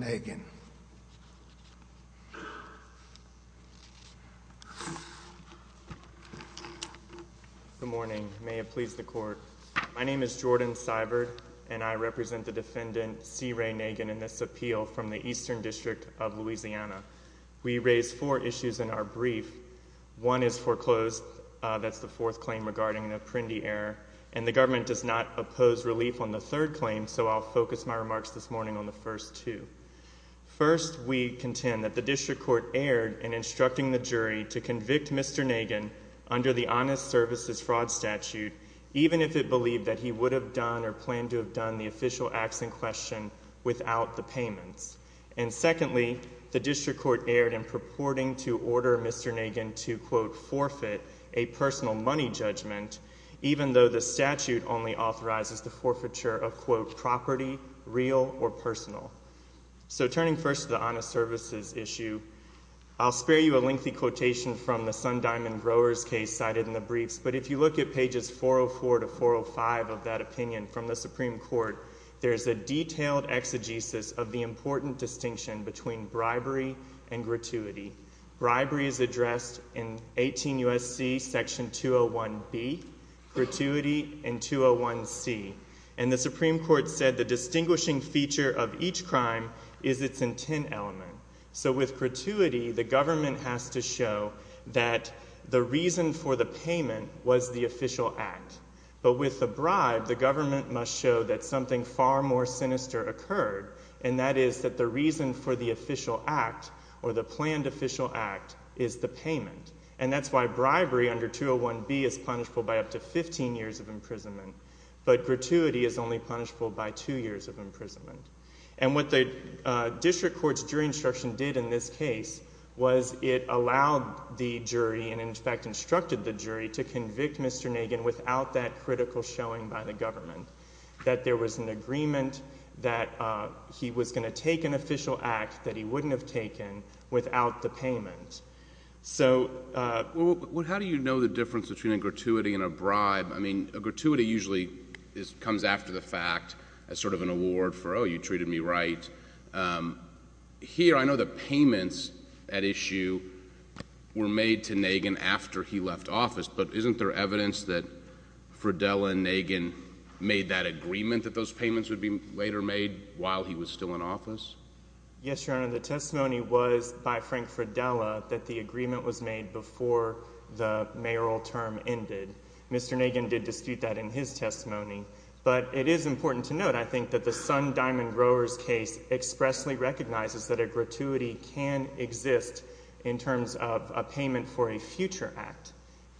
Good morning. May it please the court. My name is Jordan Seibert, and I represent the defendant C. Ray Nagin in this appeal from the Eastern District of Louisiana. We raise four issues in our brief. One is foreclosed, that's the fourth claim regarding an apprendee error, and the government does not oppose relief on the third claim, so I'll focus my First, we contend that the district court erred in instructing the jury to convict Mr. Nagin under the Honest Services Fraud Statute, even if it believed that he would have done or planned to have done the official acts in question without the payments. And secondly, the district court erred in purporting to order Mr. Nagin to, quote, forfeit a personal money judgment, even though the statute only authorizes the forfeiture of, quote, property real or personal. So turning first to the Honest Services issue, I'll spare you a lengthy quotation from the Sun Diamond Growers case cited in the briefs, but if you look at pages 404 to 405 of that opinion from the Supreme Court, there's a detailed exegesis of the important distinction between bribery and gratuity. Bribery is addressed in 18 U.S.C. Section 201B, gratuity in 201C, and the Supreme Court said the distinguishing feature of each crime is its intent element. So with gratuity, the government has to show that the reason for the payment was the official act, but with the bribe, the government must show that something far more sinister occurred, and that is that the reason for the official act or the planned official act is the payment, and that's why bribery under 201B is punishable by up to 15 years of imprisonment, but gratuity is only punishable by two years of imprisonment. And what the district court's jury instruction did in this case was it allowed the jury and in fact instructed the jury to convict Mr. Nagin without that critical showing by the government, that there was an agreement that he was going to take an official act that he wouldn't have taken without the payment. How do you know the difference between a gratuity and a bribe? I mean, a gratuity usually comes after the fact as sort of an award for, oh, you treated me right. Here, I know the payments at issue were made to Nagin after he left office, but isn't there evidence that Fridella and Nagin made that agreement that those payments would be later made while he was still in office? Yes, Your Honor, the testimony was by Frank Fridella that the agreement was made before the mayoral term ended. Mr. Nagin did dispute that in his testimony, but it is important to note, I think, that the Sun Diamond Growers case expressly recognizes that a gratuity can exist in terms of a payment for a future act.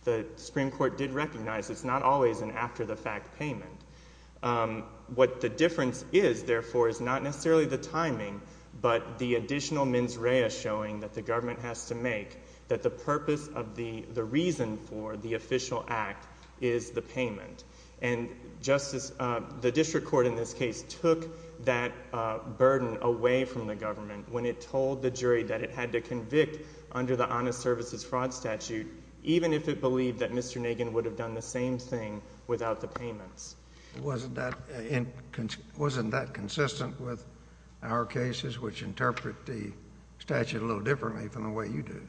The Supreme Court did recognize it's not always an after-the-fact payment. What the difference is, therefore, is not necessarily the timing, but the additional mens rea showing that the government has to make that the purpose of the reason for the official act is the payment. And the district court in this case took that burden away from the government when it told the jury that it had to convict under the Honest Services Fraud Statute, even if it believed that Mr. Nagin would have done the same thing without the payments. Wasn't that consistent with our cases, which interpret the statute a little differently from the way you do?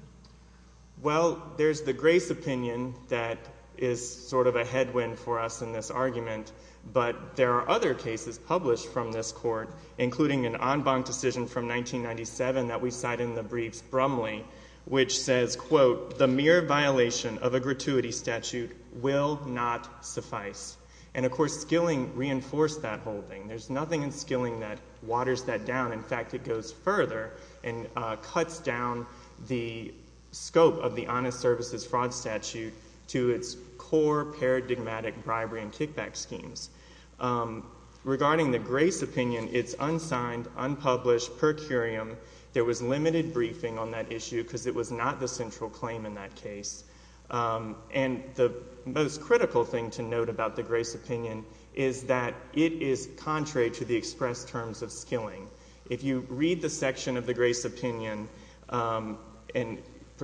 Well, there's the Grace opinion that is sort of a headwind for us in this argument, but there are other cases published from this court, including an en banc decision from 1997 that we cite in the briefs Brumley, which says, quote, the mere violation of a gratuity statute will not suffice. And of course, Skilling reinforced that whole thing. There's nothing in Skilling that waters that down. In fact, it goes further and cuts down the scope of the Honest Services Fraud Statute to its core paradigmatic bribery and kickback schemes. Regarding the Grace opinion, it's unsigned, unpublished, per curiam. There was limited briefing on that issue because it was not the central claim in that case. And the most critical thing to note about the Grace opinion is that it is contrary to the express terms of Skilling. If you read the section of the Grace opinion, and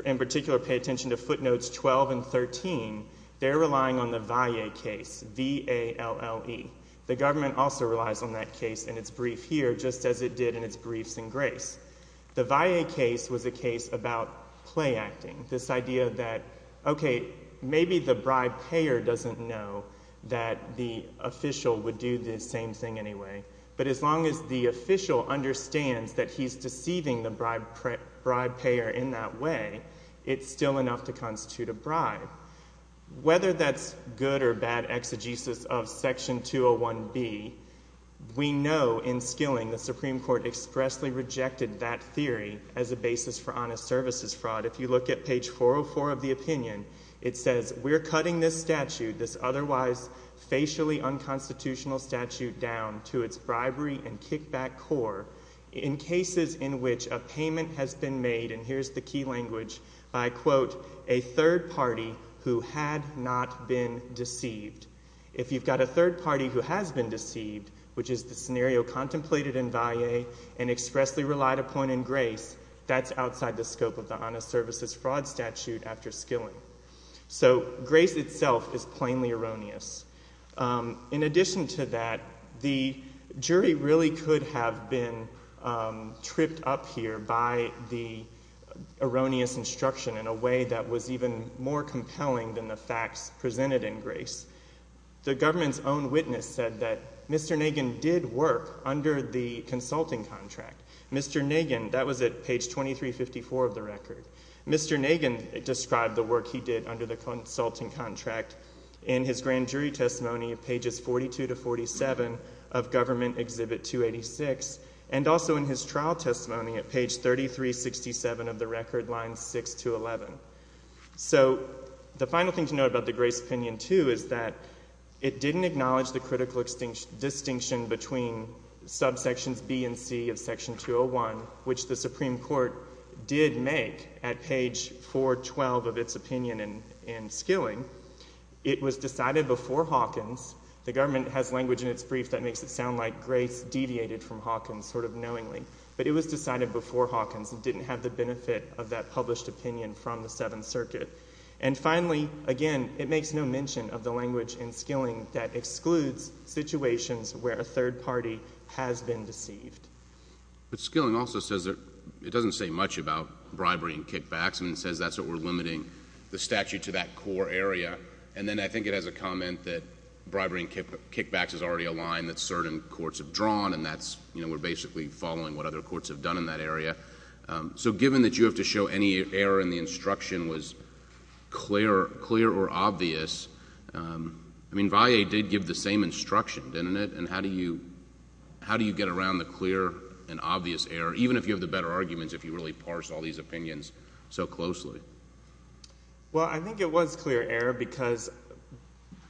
in particular pay attention to footnotes 12 and 13, they're relying on the Valle case, V-A-L-L-E. The government also relies on that case in its brief here, just as it did in its briefs in Grace. The Valle case was a case about play acting, this idea that, okay, maybe the bribe payer doesn't know that the official would do the same thing anyway. But as long as the official understands that he's deceiving the bribe payer in that way, it's still enough to constitute a bribe. Whether that's good or bad exegesis of Section 201B, we know in Skilling the Supreme Court expressly rejected that theory as a basis for honest services fraud. If you look at page 404 of the opinion, it says, we're cutting this statute, this otherwise facially unconstitutional statute, down to its bribery and kickback core in cases in which a payment has been made, and here's the key language, by, quote, a third party who had not been deceived. If you've got a third party who has been deceived, which is the scenario contemplated in Valle, and expressly relied upon in Grace, that's outside the scope of the honest services fraud statute after Skilling. So Grace itself is plainly erroneous. In addition to that, the jury really could have been tripped up here by the erroneous instruction in a way that was even more compelling than the facts presented in Grace. The government's own witness said that Mr. Nagin did work under the consulting contract. Mr. Nagin, that was at page 2354 of the record. Mr. Nagin described the work he did under the consulting contract in his grand jury testimony at pages 42 to 47 of Government Exhibit 286, and also in his trial testimony at page 3367 of the record, lines 6 to 11. So the final thing to note about the Grace opinion, too, is that it didn't acknowledge the critical distinction between subsections B and C of section 201, which the Supreme Court did make at page 412 of its opinion in Skilling. It was decided before Hawkins. The government has language in its brief that makes it sound like Grace deviated from Hawkins sort of knowingly, but it was decided before Hawkins and didn't have the benefit of that published opinion from the government. And it makes no mention of the language in Skilling that excludes situations where a third party has been deceived. But Skilling also says that it doesn't say much about bribery and kickbacks, and it says that's what we're limiting the statute to, that core area. And then I think it has a comment that bribery and kickbacks is already a line that certain courts have drawn, and that's, you know, we're basically following what other courts have done in that area. So given that you have to show any error in the instruction was clear or obvious, I mean, VAE did give the same instruction, didn't it? And how do you get around the clear and obvious error, even if you have the better arguments, if you really parse all these opinions so closely? Well, I think it was clear error because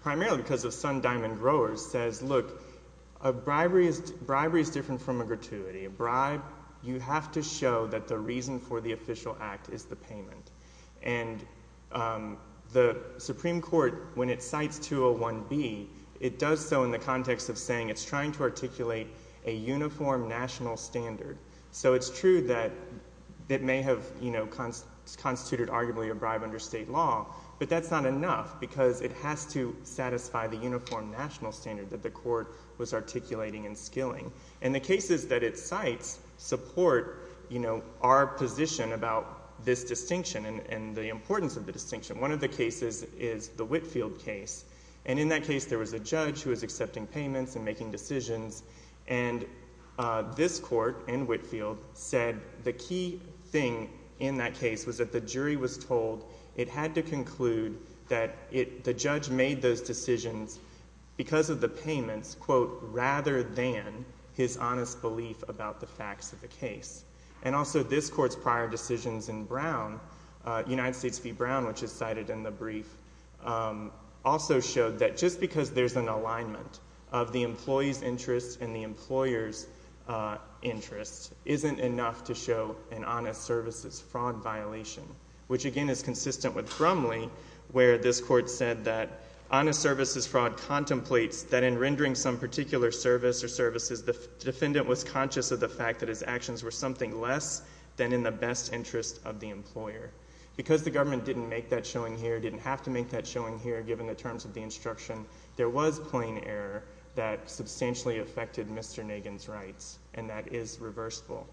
primarily because of Sun Diamond Growers says, look, bribery is different from a gratuity. A bribe, you have to show that the reason for the official act is the payment. And the Supreme Court, when it cites 201B, it does so in the context of saying it's trying to articulate a uniform national standard. So it's true that it may have, you know, constituted arguably a bribe under state law, but that's not enough because it has to satisfy the uniform national standard that the court was articulating and skilling. And the cases that it cites support, you know, our position about this distinction and the importance of the distinction. One of the cases is the Whitfield case. And in that case, there was a judge who was accepting payments and making decisions. And this court in Whitfield said the key thing in that case was that the jury was told it had to conclude that it, the judge made those decisions because of the payments, quote, rather than his honest belief about the facts of the case. And also this court's prior decisions in Brown, United States v. Brown, which is cited in the brief, also showed that just because there's an alignment of the employee's interests and the employer's interests isn't enough to show an honest services fraud violation, which again is consistent with Grumley, where this court said that honest services fraud contemplates that in rendering some particular service or services, the defendant was conscious of the fact that his actions were something less than in the best interest of the employer. Because the government didn't make that showing here, didn't have to make that showing here, given the terms of the instruction, there was plain error that substantially affected Mr. Nagin's rights, and that is reversible.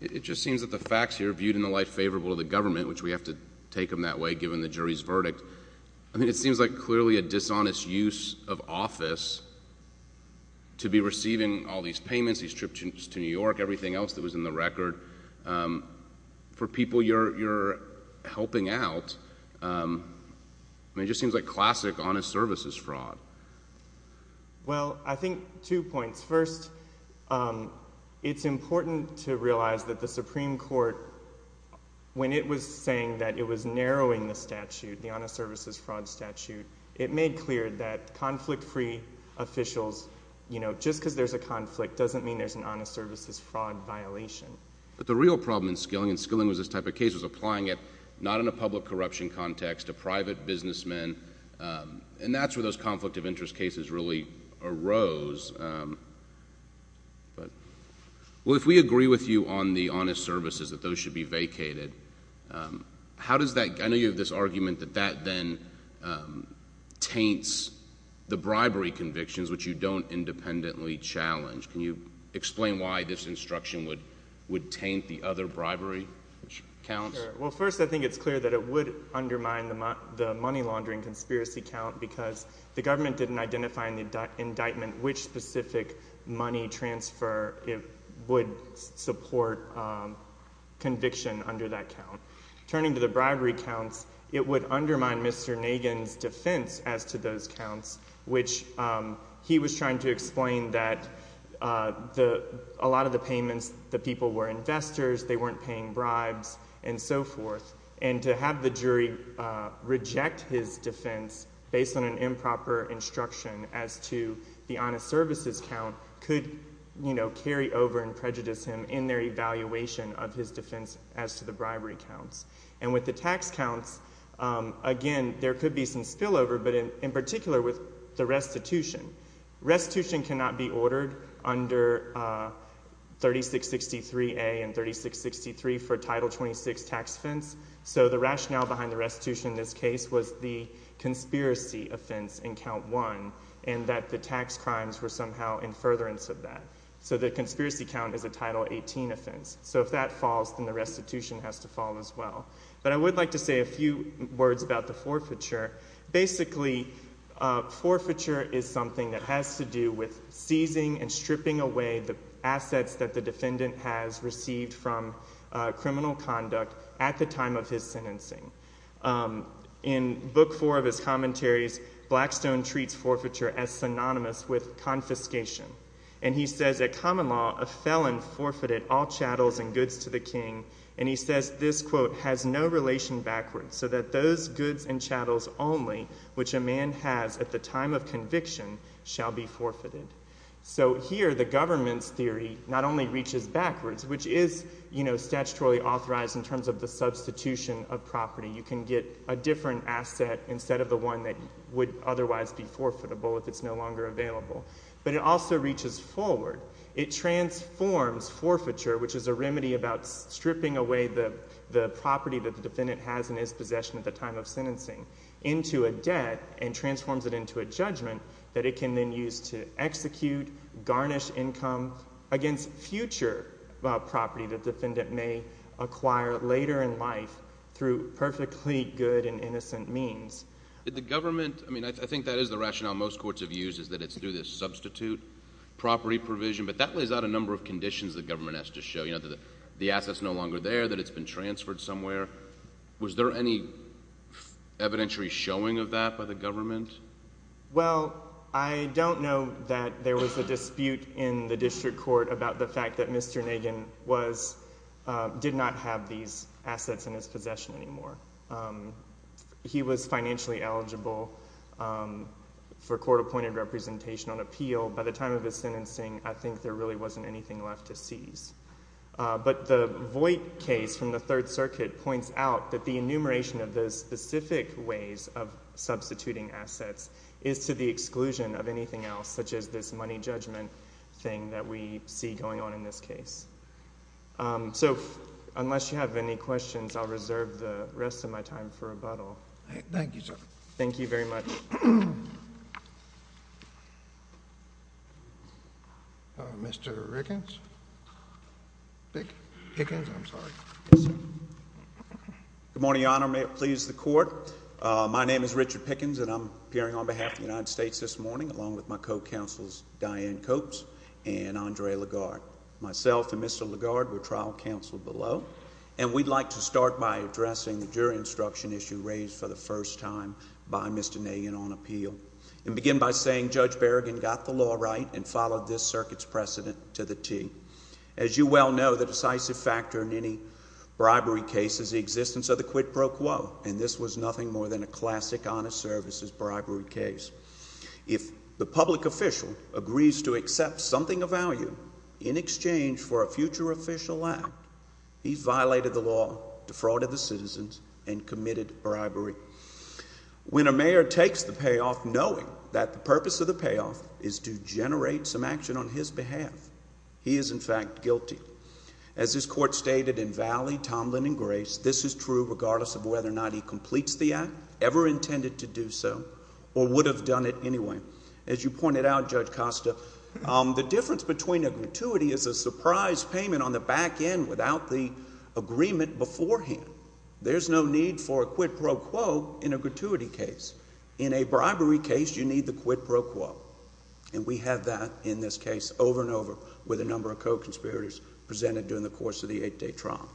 It just seems that the facts here viewed in the light favorable to the government, which we have to take them that way given the jury's verdict, I mean, it seems like clearly a dishonest use of office to be receiving all these payments, these trips to New York, everything else that was in the record, for people you're helping out, I mean, it just seems like classic honest services fraud. Well, I think two points. First, it's important to realize that the Supreme Court, when it was saying that it was narrowing the statute, the honest services fraud statute, it made clear that conflict-free officials, you know, just because there's a conflict doesn't mean there's an honest services fraud violation. But the real problem in Skilling, and Skilling was this type of case, was applying it not in a public corruption context, a private businessman, and that's where those conflict of interest cases really arose. But, well, if we agree with you on the honest services, that those should be vacated, how does that, I know you have this argument that that then taints the bribery convictions, which you don't independently challenge. Can you explain why this instruction would taint the other bribery counts? Well, first, I think it's clear that it would undermine the money laundering conspiracy count because the government didn't identify in the indictment which specific money transfer it would support conviction under that count. Turning to the bribery counts, it would undermine Mr. Nagin's defense as to those counts, which he was trying to explain that a lot of the payments, the people were investors, they were so forth, and to have the jury reject his defense based on an improper instruction as to the honest services count could, you know, carry over and prejudice him in their evaluation of his defense as to the bribery counts. And with the tax counts, again, there could be some spillover, but in particular with the restitution. Restitution cannot be ordered under 3663A and 3663 for Title 26 tax offense, so the rationale behind the restitution in this case was the conspiracy offense in Count 1 and that the tax crimes were somehow in furtherance of that. So the conspiracy count is a Title 18 offense. So if that falls, then the restitution has to fall as well. But I would like to say a few words about the forfeiture. Basically, forfeiture is something that has to do with seizing and stripping away the assets that the defendant has received from criminal conduct at the time of his sentencing. In Book 4 of his commentaries, Blackstone treats forfeiture as synonymous with confiscation. And he says, at common law, a felon forfeited all chattels and goods to the king, and he a man has at the time of conviction shall be forfeited. So here, the government's theory not only reaches backwards, which is statutorily authorized in terms of the substitution of property. You can get a different asset instead of the one that would otherwise be forfeitable if it's no longer available, but it also reaches forward. It transforms forfeiture, which is a remedy about stripping away the property that the defendant may acquire later in life through perfectly good and innocent means, that it can then use to execute, garnish income against future property that the defendant may acquire later in life through perfectly good and innocent means. The government, I mean, I think that is the rationale most courts have used is that it's through this substitute property provision, but that lays out a number of conditions the government has to show, you know, that the asset's no longer there, that it's been transferred somewhere. Was there any evidentiary showing of that by the government? Well, I don't know that there was a dispute in the district court about the fact that Mr. Nagin did not have these assets in his possession anymore. He was financially eligible for court-appointed representation on appeal. By the time of his sentencing, I think there really wasn't anything left to seize. But the Voight case from the Third Circuit points out that the enumeration of those specific ways of substituting assets is to the exclusion of anything else, such as this money judgment thing that we see going on in this case. So unless you have any questions, I'll reserve the rest of my time for rebuttal. Thank you, sir. Thank you very much. Mr. Pickens? Pickens? Pickens? I'm sorry. Yes, sir. Good morning, Your Honor. May it please the Court. My name is Richard Pickens, and I'm appearing on behalf of the United States this morning, along with my co-counsels, Diane Copes and Andre Lagarde. Myself and Mr. Lagarde were trial counsel below, and we'd like to start by addressing the jury instruction issue raised for the first time by Mr. Nagin on appeal, and begin by saying Judge Berrigan got the law right and followed this circuit's precedent to the T. As you well know, the decisive factor in any bribery case is the existence of the quid pro quo, and this was nothing more than a classic honest services bribery case. If the public official agrees to accept something of value in exchange for a future official act, he's violated the law, defrauded the citizens, and committed bribery. When a mayor takes the payoff knowing that the purpose of the payoff is to generate some action on his behalf, he is, in fact, guilty. As this Court stated in Valley, Tomlin, and Grace, this is true regardless of whether or not he completes the act, ever intended to do so, or would have done it anyway. As you pointed out, Judge Costa, the difference between a gratuity is a surprise payment on the back end without the agreement beforehand. There's no need for a quid pro quo in a gratuity case. In a bribery case, you need the quid pro quo, and we have that in this case over and over with a number of co-conspirators presented during the course of the eight-day trial.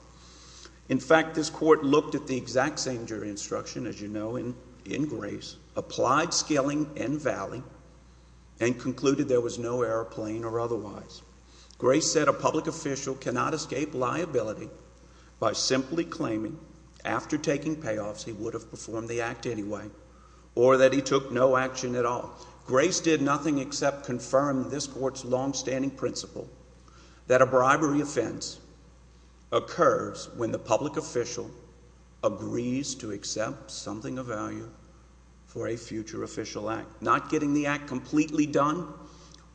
In fact, this Court looked at the exact same jury instruction, as you know, in Grace, applied skilling in Valley, and concluded there was no error plain or otherwise. Grace said a public official cannot escape liability by simply claiming, after taking payoffs, he would have performed the act anyway, or that he took no action at all. Grace did nothing except confirm this Court's longstanding principle that a bribery offense occurs when the public official agrees to accept something of value for a future official act. Not getting the act completely done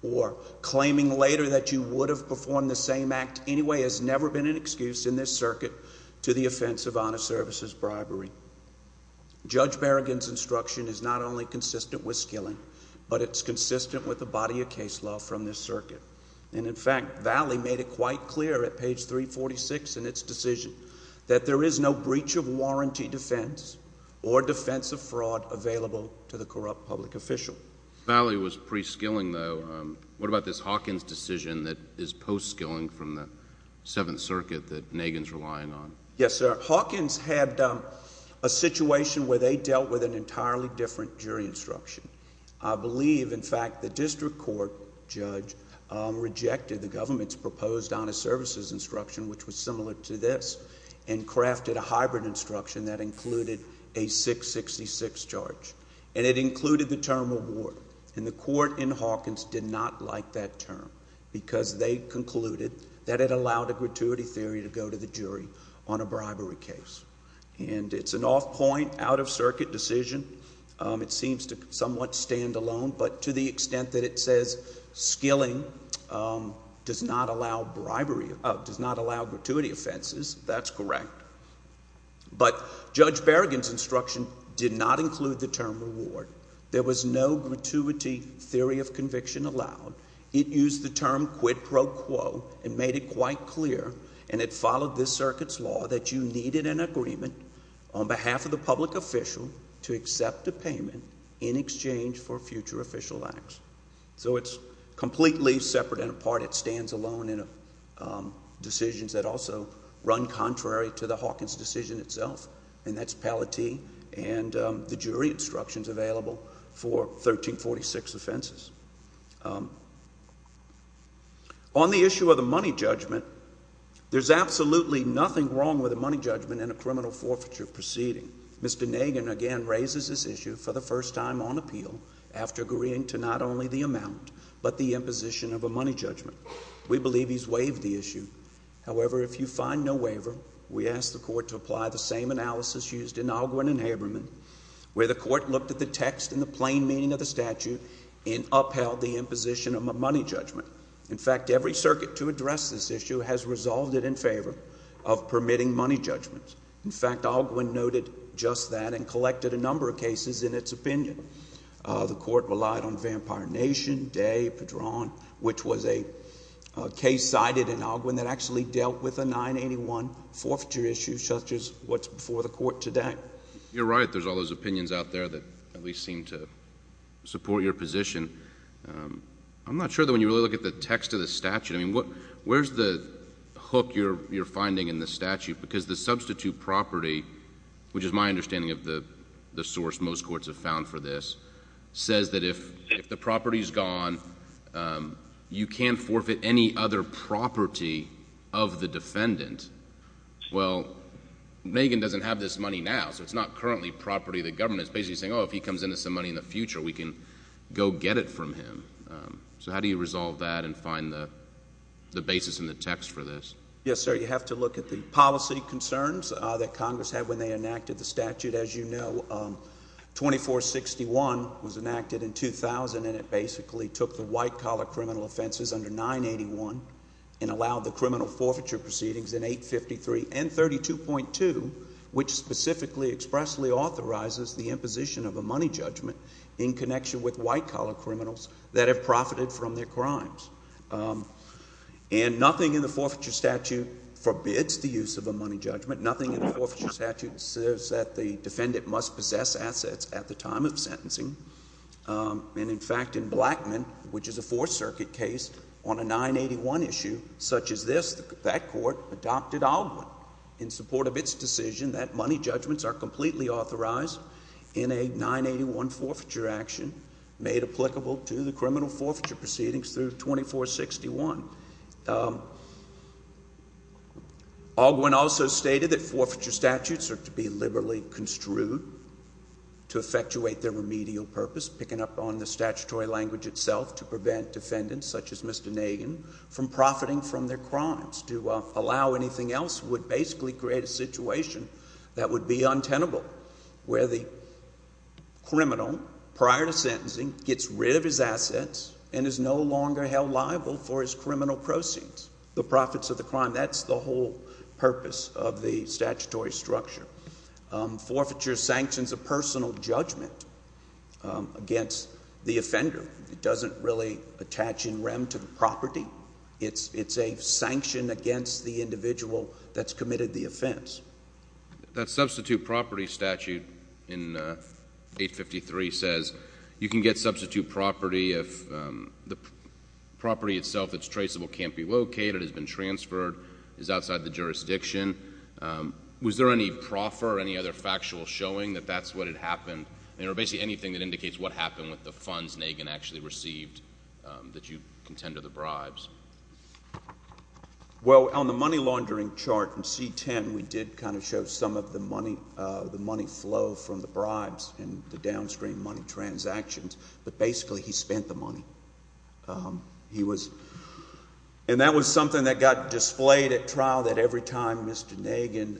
or claiming later that you would have performed the same act anyway has never been an excuse in this circuit to the offense of honest services bribery. Judge Berrigan's instruction is not only consistent with skilling, but it's consistent with the body of case law from this circuit, and in fact, Valley made it quite clear at page 346 in its decision that there is no breach of warranty defense or defense of fraud available to the corrupt public official. Valley was pre-skilling, though. What about this Hawkins decision that is post-skilling from the Seventh Circuit that Nagin's relying on? Yes, sir. Hawkins had a situation where they dealt with an entirely different jury instruction. I believe, in fact, the district court judge rejected the government's proposed honest services instruction, which was similar to this, and crafted a hybrid instruction that included the term reward, and the court in Hawkins did not like that term because they concluded that it allowed a gratuity theory to go to the jury on a bribery case, and it's an off-point, out-of-circuit decision. It seems to somewhat stand alone, but to the extent that it says skilling does not allow bribery, does not allow gratuity offenses, that's correct, but Judge Berrigan's instruction did not include the term reward. There was no gratuity theory of conviction allowed. It used the term quid pro quo and made it quite clear, and it followed this circuit's law that you needed an agreement on behalf of the public official to accept a payment in exchange for future official acts. So it's completely separate and apart. It stands alone in decisions that also run contrary to the Hawkins decision itself, and that's Palatee and the jury instructions available for 1346 offenses. On the issue of the money judgment, there's absolutely nothing wrong with a money judgment in a criminal forfeiture proceeding. Mr. Nagin again raises this issue for the first time on appeal after agreeing to not only the amount, but the imposition of a money judgment. We believe he's waived the issue. However, if you find no waiver, we ask the Court to apply the same analysis used in Alguin and Haberman, where the Court looked at the text and the plain meaning of the statute and upheld the imposition of a money judgment. In fact, every circuit to address this issue has resolved it in favor of permitting money judgments. In fact, Alguin noted just that and collected a number of cases in its opinion. The Court relied on Vampire Nation, Day, Padron, which was a case cited in Alguin that actually dealt with a 981 forfeiture issue such as what's before the Court today. You're right. There's all those opinions out there that at least seem to support your position. I'm not sure that when you really look at the text of the statute, I mean, where's the hook you're finding in the statute? Because the substitute property, which is my understanding of the source most courts have found for this, says that if the property's gone, you can't forfeit any other property of the defendant. Well, Megan doesn't have this money now, so it's not currently property of the government. It's basically saying, oh, if he comes in with some money in the future, we can go get it from him. How do you resolve that and find the basis in the text for this? Yes, sir. You have to look at the policy concerns that Congress had when they enacted the statute. As you know, 2461 was enacted in 2000, and it basically took the white-collar criminal offenses under 981 and allowed the criminal forfeiture proceedings in 853 and 32.2, which specifically expressly authorizes the imposition of a money judgment in connection with white-collar criminals that have profited from their crimes. And nothing in the forfeiture statute forbids the use of a money judgment. Nothing in the forfeiture statute says that the defendant must possess assets at the time of sentencing. And, in fact, in Blackman, which is a Fourth Circuit case on a 981 issue such as this, that court adopted Ogwin in support of its decision that money judgments are completely authorized in a 981 forfeiture action made applicable to the criminal forfeiture proceedings through 2461. Ogwin also stated that forfeiture statutes are to be liberally construed to effectuate their remedial purpose, picking up on the statutory language itself to prevent defendants such as Mr. Nagin from profiting from their crimes. To allow anything else would basically create a situation that would be untenable, where the criminal, prior to sentencing, gets rid of his assets and is no longer held liable for his criminal proceeds. The profits of the crime, that's the whole purpose of the statutory structure. Forfeiture sanctions a personal judgment against the offender. It doesn't really attach in rem to the property. It's a sanction against the individual that's committed the offense. That substitute property statute in 853 says you can get substitute property if the property itself that's traceable can't be located, has been transferred, is outside the jurisdiction. Was there any proffer, any other factual showing that that's what had happened, or basically anything that indicates what happened with the funds Nagin actually received that you contend to the bribes? Well, on the money laundering chart in C-10, we did kind of show some of the money flow from the bribes and the downstream money transactions, but basically he spent the money. He was, and that was something that got displayed at trial that every time Mr. Nagin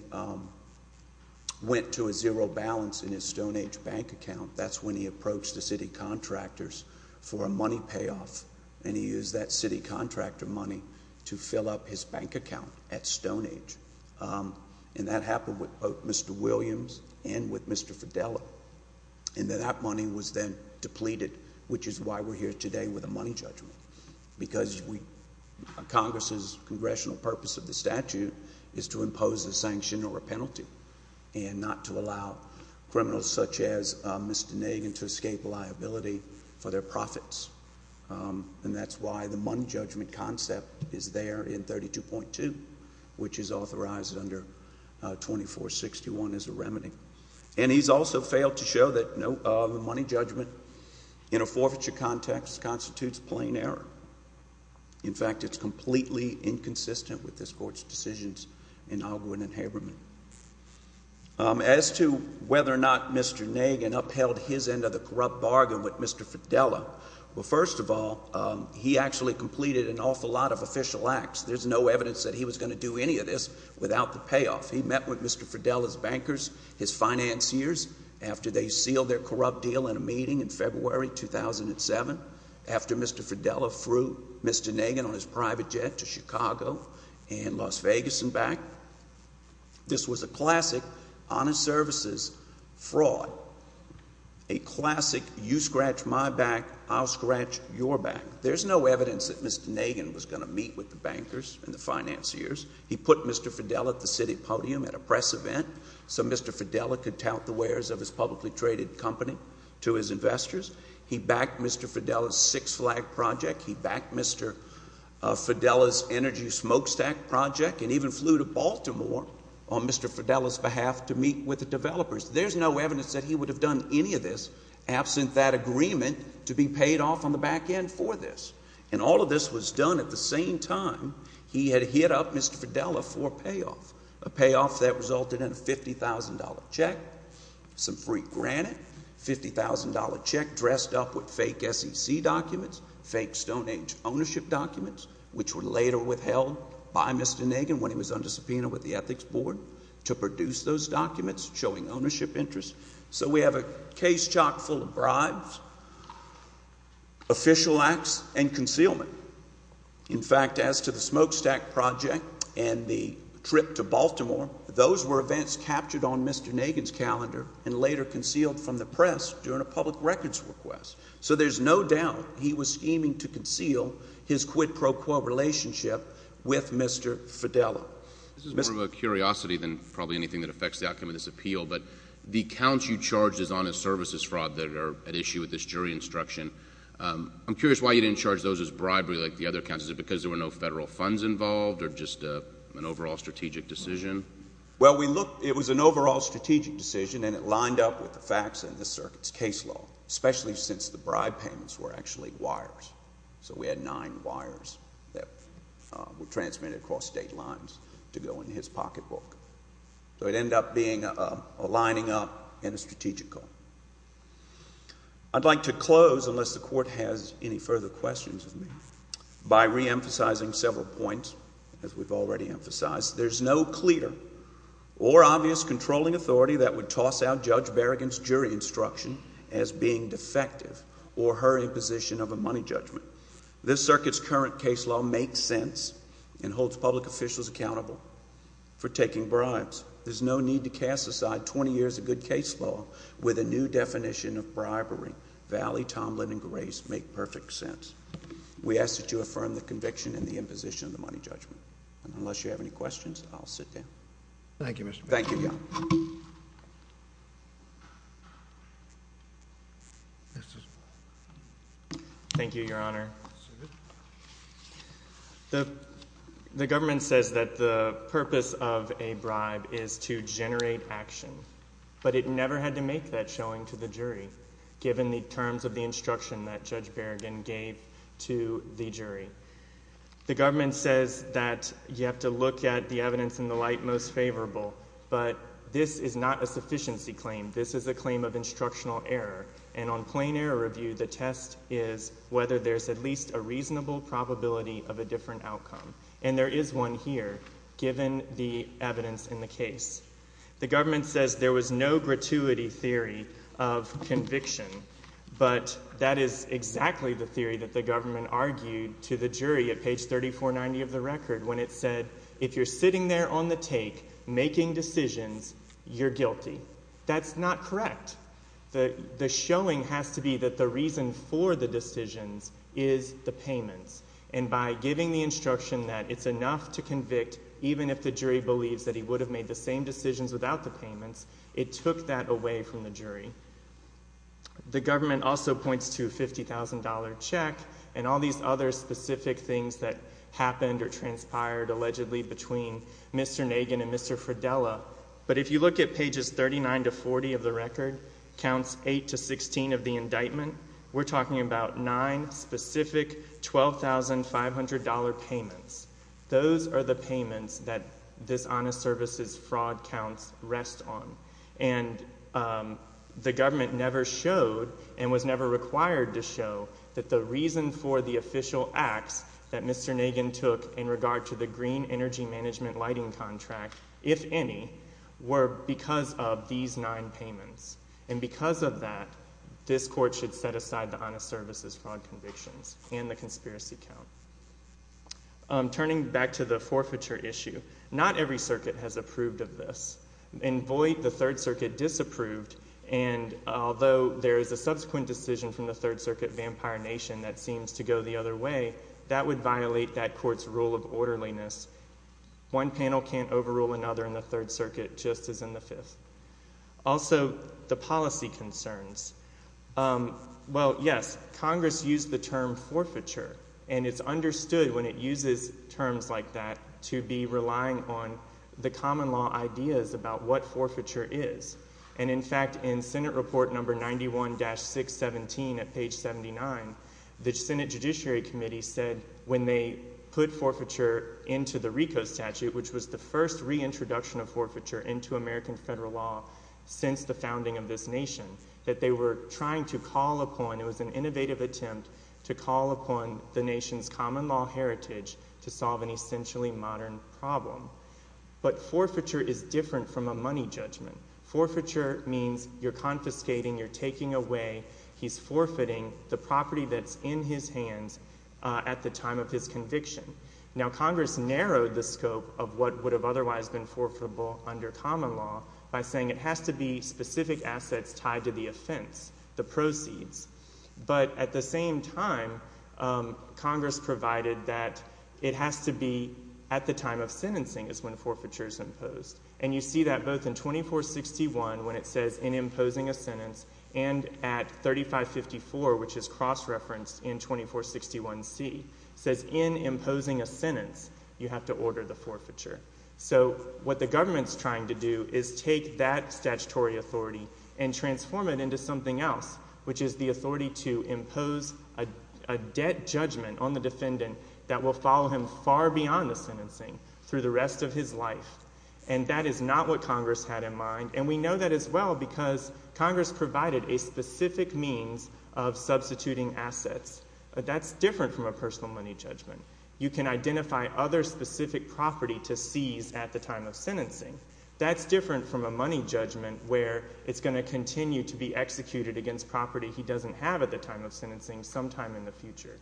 went to a zero balance in his Stone Age bank account, that's when he approached the city contractors for a money payoff, and he used that city contractor money to fill up his bank account at Stone Age. And that happened with both Mr. Williams and with Mr. Fidele. And that money was then depleted, which is why we're here today with a money judgment. Because Congress's congressional purpose of the statute is to impose a sanction or a penalty and not to allow criminals such as Mr. Nagin to escape liability for their profits. And that's why the money judgment concept is there in 32.2, which is authorized under 2461 as a remedy. And he's also failed to show that the money judgment in a forfeiture context constitutes plain error. In fact, it's completely inconsistent with this Court's decisions in Ogwen and Haberman. As to whether or not Mr. Nagin upheld his end of the corrupt bargain with Mr. Fidele, well, first of all, he actually completed an awful lot of official acts. There's no evidence that he was going to do any of this without the payoff. He met with Mr. Fidele's bankers, his financiers, after they sealed their corrupt deal in a meeting in February 2007, after Mr. Fidele threw Mr. Nagin on his private jet to Chicago and Las Vegas and back. This was a classic, honest services fraud, a classic, you scratch my back, I'll scratch your back. There's no evidence that Mr. Nagin was going to meet with the bankers and the financiers. He put Mr. Fidele at the city podium at a press event so Mr. Fidele could tout the wares of his publicly traded company to his investors. He backed Mr. Fidele's Six Flag project. He backed Mr. Fidele's Energy Smokestack project and even flew to Baltimore on Mr. Fidele's behalf to meet with the developers. There's no evidence that he would have done any of this absent that agreement to be paid off on the back end for this. And all of this was done at the same time he had hit up Mr. Fidele for a payoff, a payoff that resulted in a $50,000 check, some free granite, $50,000 check dressed up with fake SEC documents, fake Stone Age ownership documents, which were later withheld by Mr. Nagin when he was under subpoena with the Ethics Board to produce those documents showing ownership interests. So we have a case chock full of bribes, official acts, and concealment. In fact, as to the Smokestack project and the trip to Baltimore, those were events captured on Mr. Nagin's calendar and later concealed from the press during a public records request. So there's no doubt he was scheming to conceal his quid pro quo relationship with Mr. Fidele. This is more of a curiosity than probably anything that affects the outcome of this case. The accounts you charged as honest services fraud that are at issue with this jury instruction, I'm curious why you didn't charge those as bribery like the other accounts. Is it because there were no federal funds involved or just an overall strategic decision? Well, we looked, it was an overall strategic decision and it lined up with the facts in the circuit's case law, especially since the bribe payments were actually wires. So we had nine wires that were transmitted across state lines to go in his pocketbook. So it ended up being a lining up and a strategic call. I'd like to close, unless the Court has any further questions of me, by reemphasizing several points, as we've already emphasized. There's no clear or obvious controlling authority that would toss out Judge Berrigan's jury instruction as being defective or her imposition of a money judgment. This circuit's current case law makes sense and holds public officials accountable for taking bribes. There's no need to cast aside 20 years of good case law with a new definition of bribery. Valley, Tomlin, and Grace make perfect sense. We ask that you affirm the conviction and the imposition of the money judgment. And unless you have any questions, I'll sit down. Thank you, Mr. Bishop. Thank you, Your Honor. Thank you, Your Honor. The government says that the purpose of a bribe is to generate action. But it never had to make that showing to the jury, given the terms of the instruction that Judge Berrigan gave to the jury. The government says that you have to look at the evidence in the light most favorable. But this is not a sufficiency claim. This is a claim of instructional error. And on plain error review, the test is whether there's at least a reasonable probability of a different outcome. And there is one here, given the evidence in the case. The government says there was no gratuity theory of conviction. But that is exactly the theory that the government argued to the jury at page 3490 of the record, when it said, if you're sitting there on the take, making decisions, you're guilty. That's not correct. The showing has to be that the reason for the decisions is the payments. And by giving the instruction that it's enough to convict, even if the jury believes that he would have made the same decisions without the payments, it took that away from the jury. The government also points to a $50,000 check and all these other specific things that happened or transpired, allegedly, between Mr. Nagin and Mr. Fridella. But if you look at pages 39 to 40 of the record, counts 8 to 16 of the indictment, we're talking about nine specific $12,500 payments. Those are the payments that dishonest services fraud counts rest on. And the government never showed and was never required to show that the reason for the official acts that Mr. Nagin took in regard to the green energy management lighting contract, if any, were because of these nine payments. And because of that, this court should set aside the honest services fraud convictions and the conspiracy count. Turning back to the forfeiture issue, not every circuit has approved of this. In Boyd, the Third Circuit disapproved, and although there is a subsequent decision from the Third Circuit, Vampire Nation, that seems to go the other way, that would violate that court's rule of orderliness. One panel can't overrule another in the Third Circuit just as in the Fifth. Also the policy concerns, well, yes, Congress used the term forfeiture, and it's understood when it uses terms like that to be relying on the common law ideas about what forfeiture is. And in fact, in Senate Report Number 91-617 at page 79, the Senate Judiciary Committee said when they put forfeiture into the RICO statute, which was the first reintroduction of forfeiture into American federal law since the founding of this nation, that they were trying to call upon, it was an innovative attempt to call upon the nation's common law heritage to solve an essentially modern problem. But forfeiture is different from a money judgment. Forfeiture means you're confiscating, you're taking away, he's forfeiting the property that's in his hands at the time of his conviction. Now Congress narrowed the scope of what would have otherwise been forfeitable under common law by saying it has to be specific assets tied to the offense, the proceeds. But at the same time, Congress provided that it has to be at the time of sentencing is when forfeiture is imposed. And you see that both in 2461, when it says in imposing a sentence, and at 3554, which is cross-referenced in 2461C, says in imposing a sentence, you have to order the forfeiture. So what the government's trying to do is take that statutory authority and transform it into something else, which is the authority to impose a debt judgment on the defendant that will follow him far beyond the sentencing through the rest of his life. And that is not what Congress had in mind. And we know that as well because Congress provided a specific means of substituting assets. That's different from a personal money judgment. That's different from a money judgment where it's going to continue to be executed against property he doesn't have at the time of sentencing sometime in the future.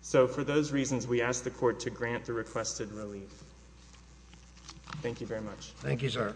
So for those reasons, we ask the court to grant the requested relief. Thank you very much. Thank you, sir.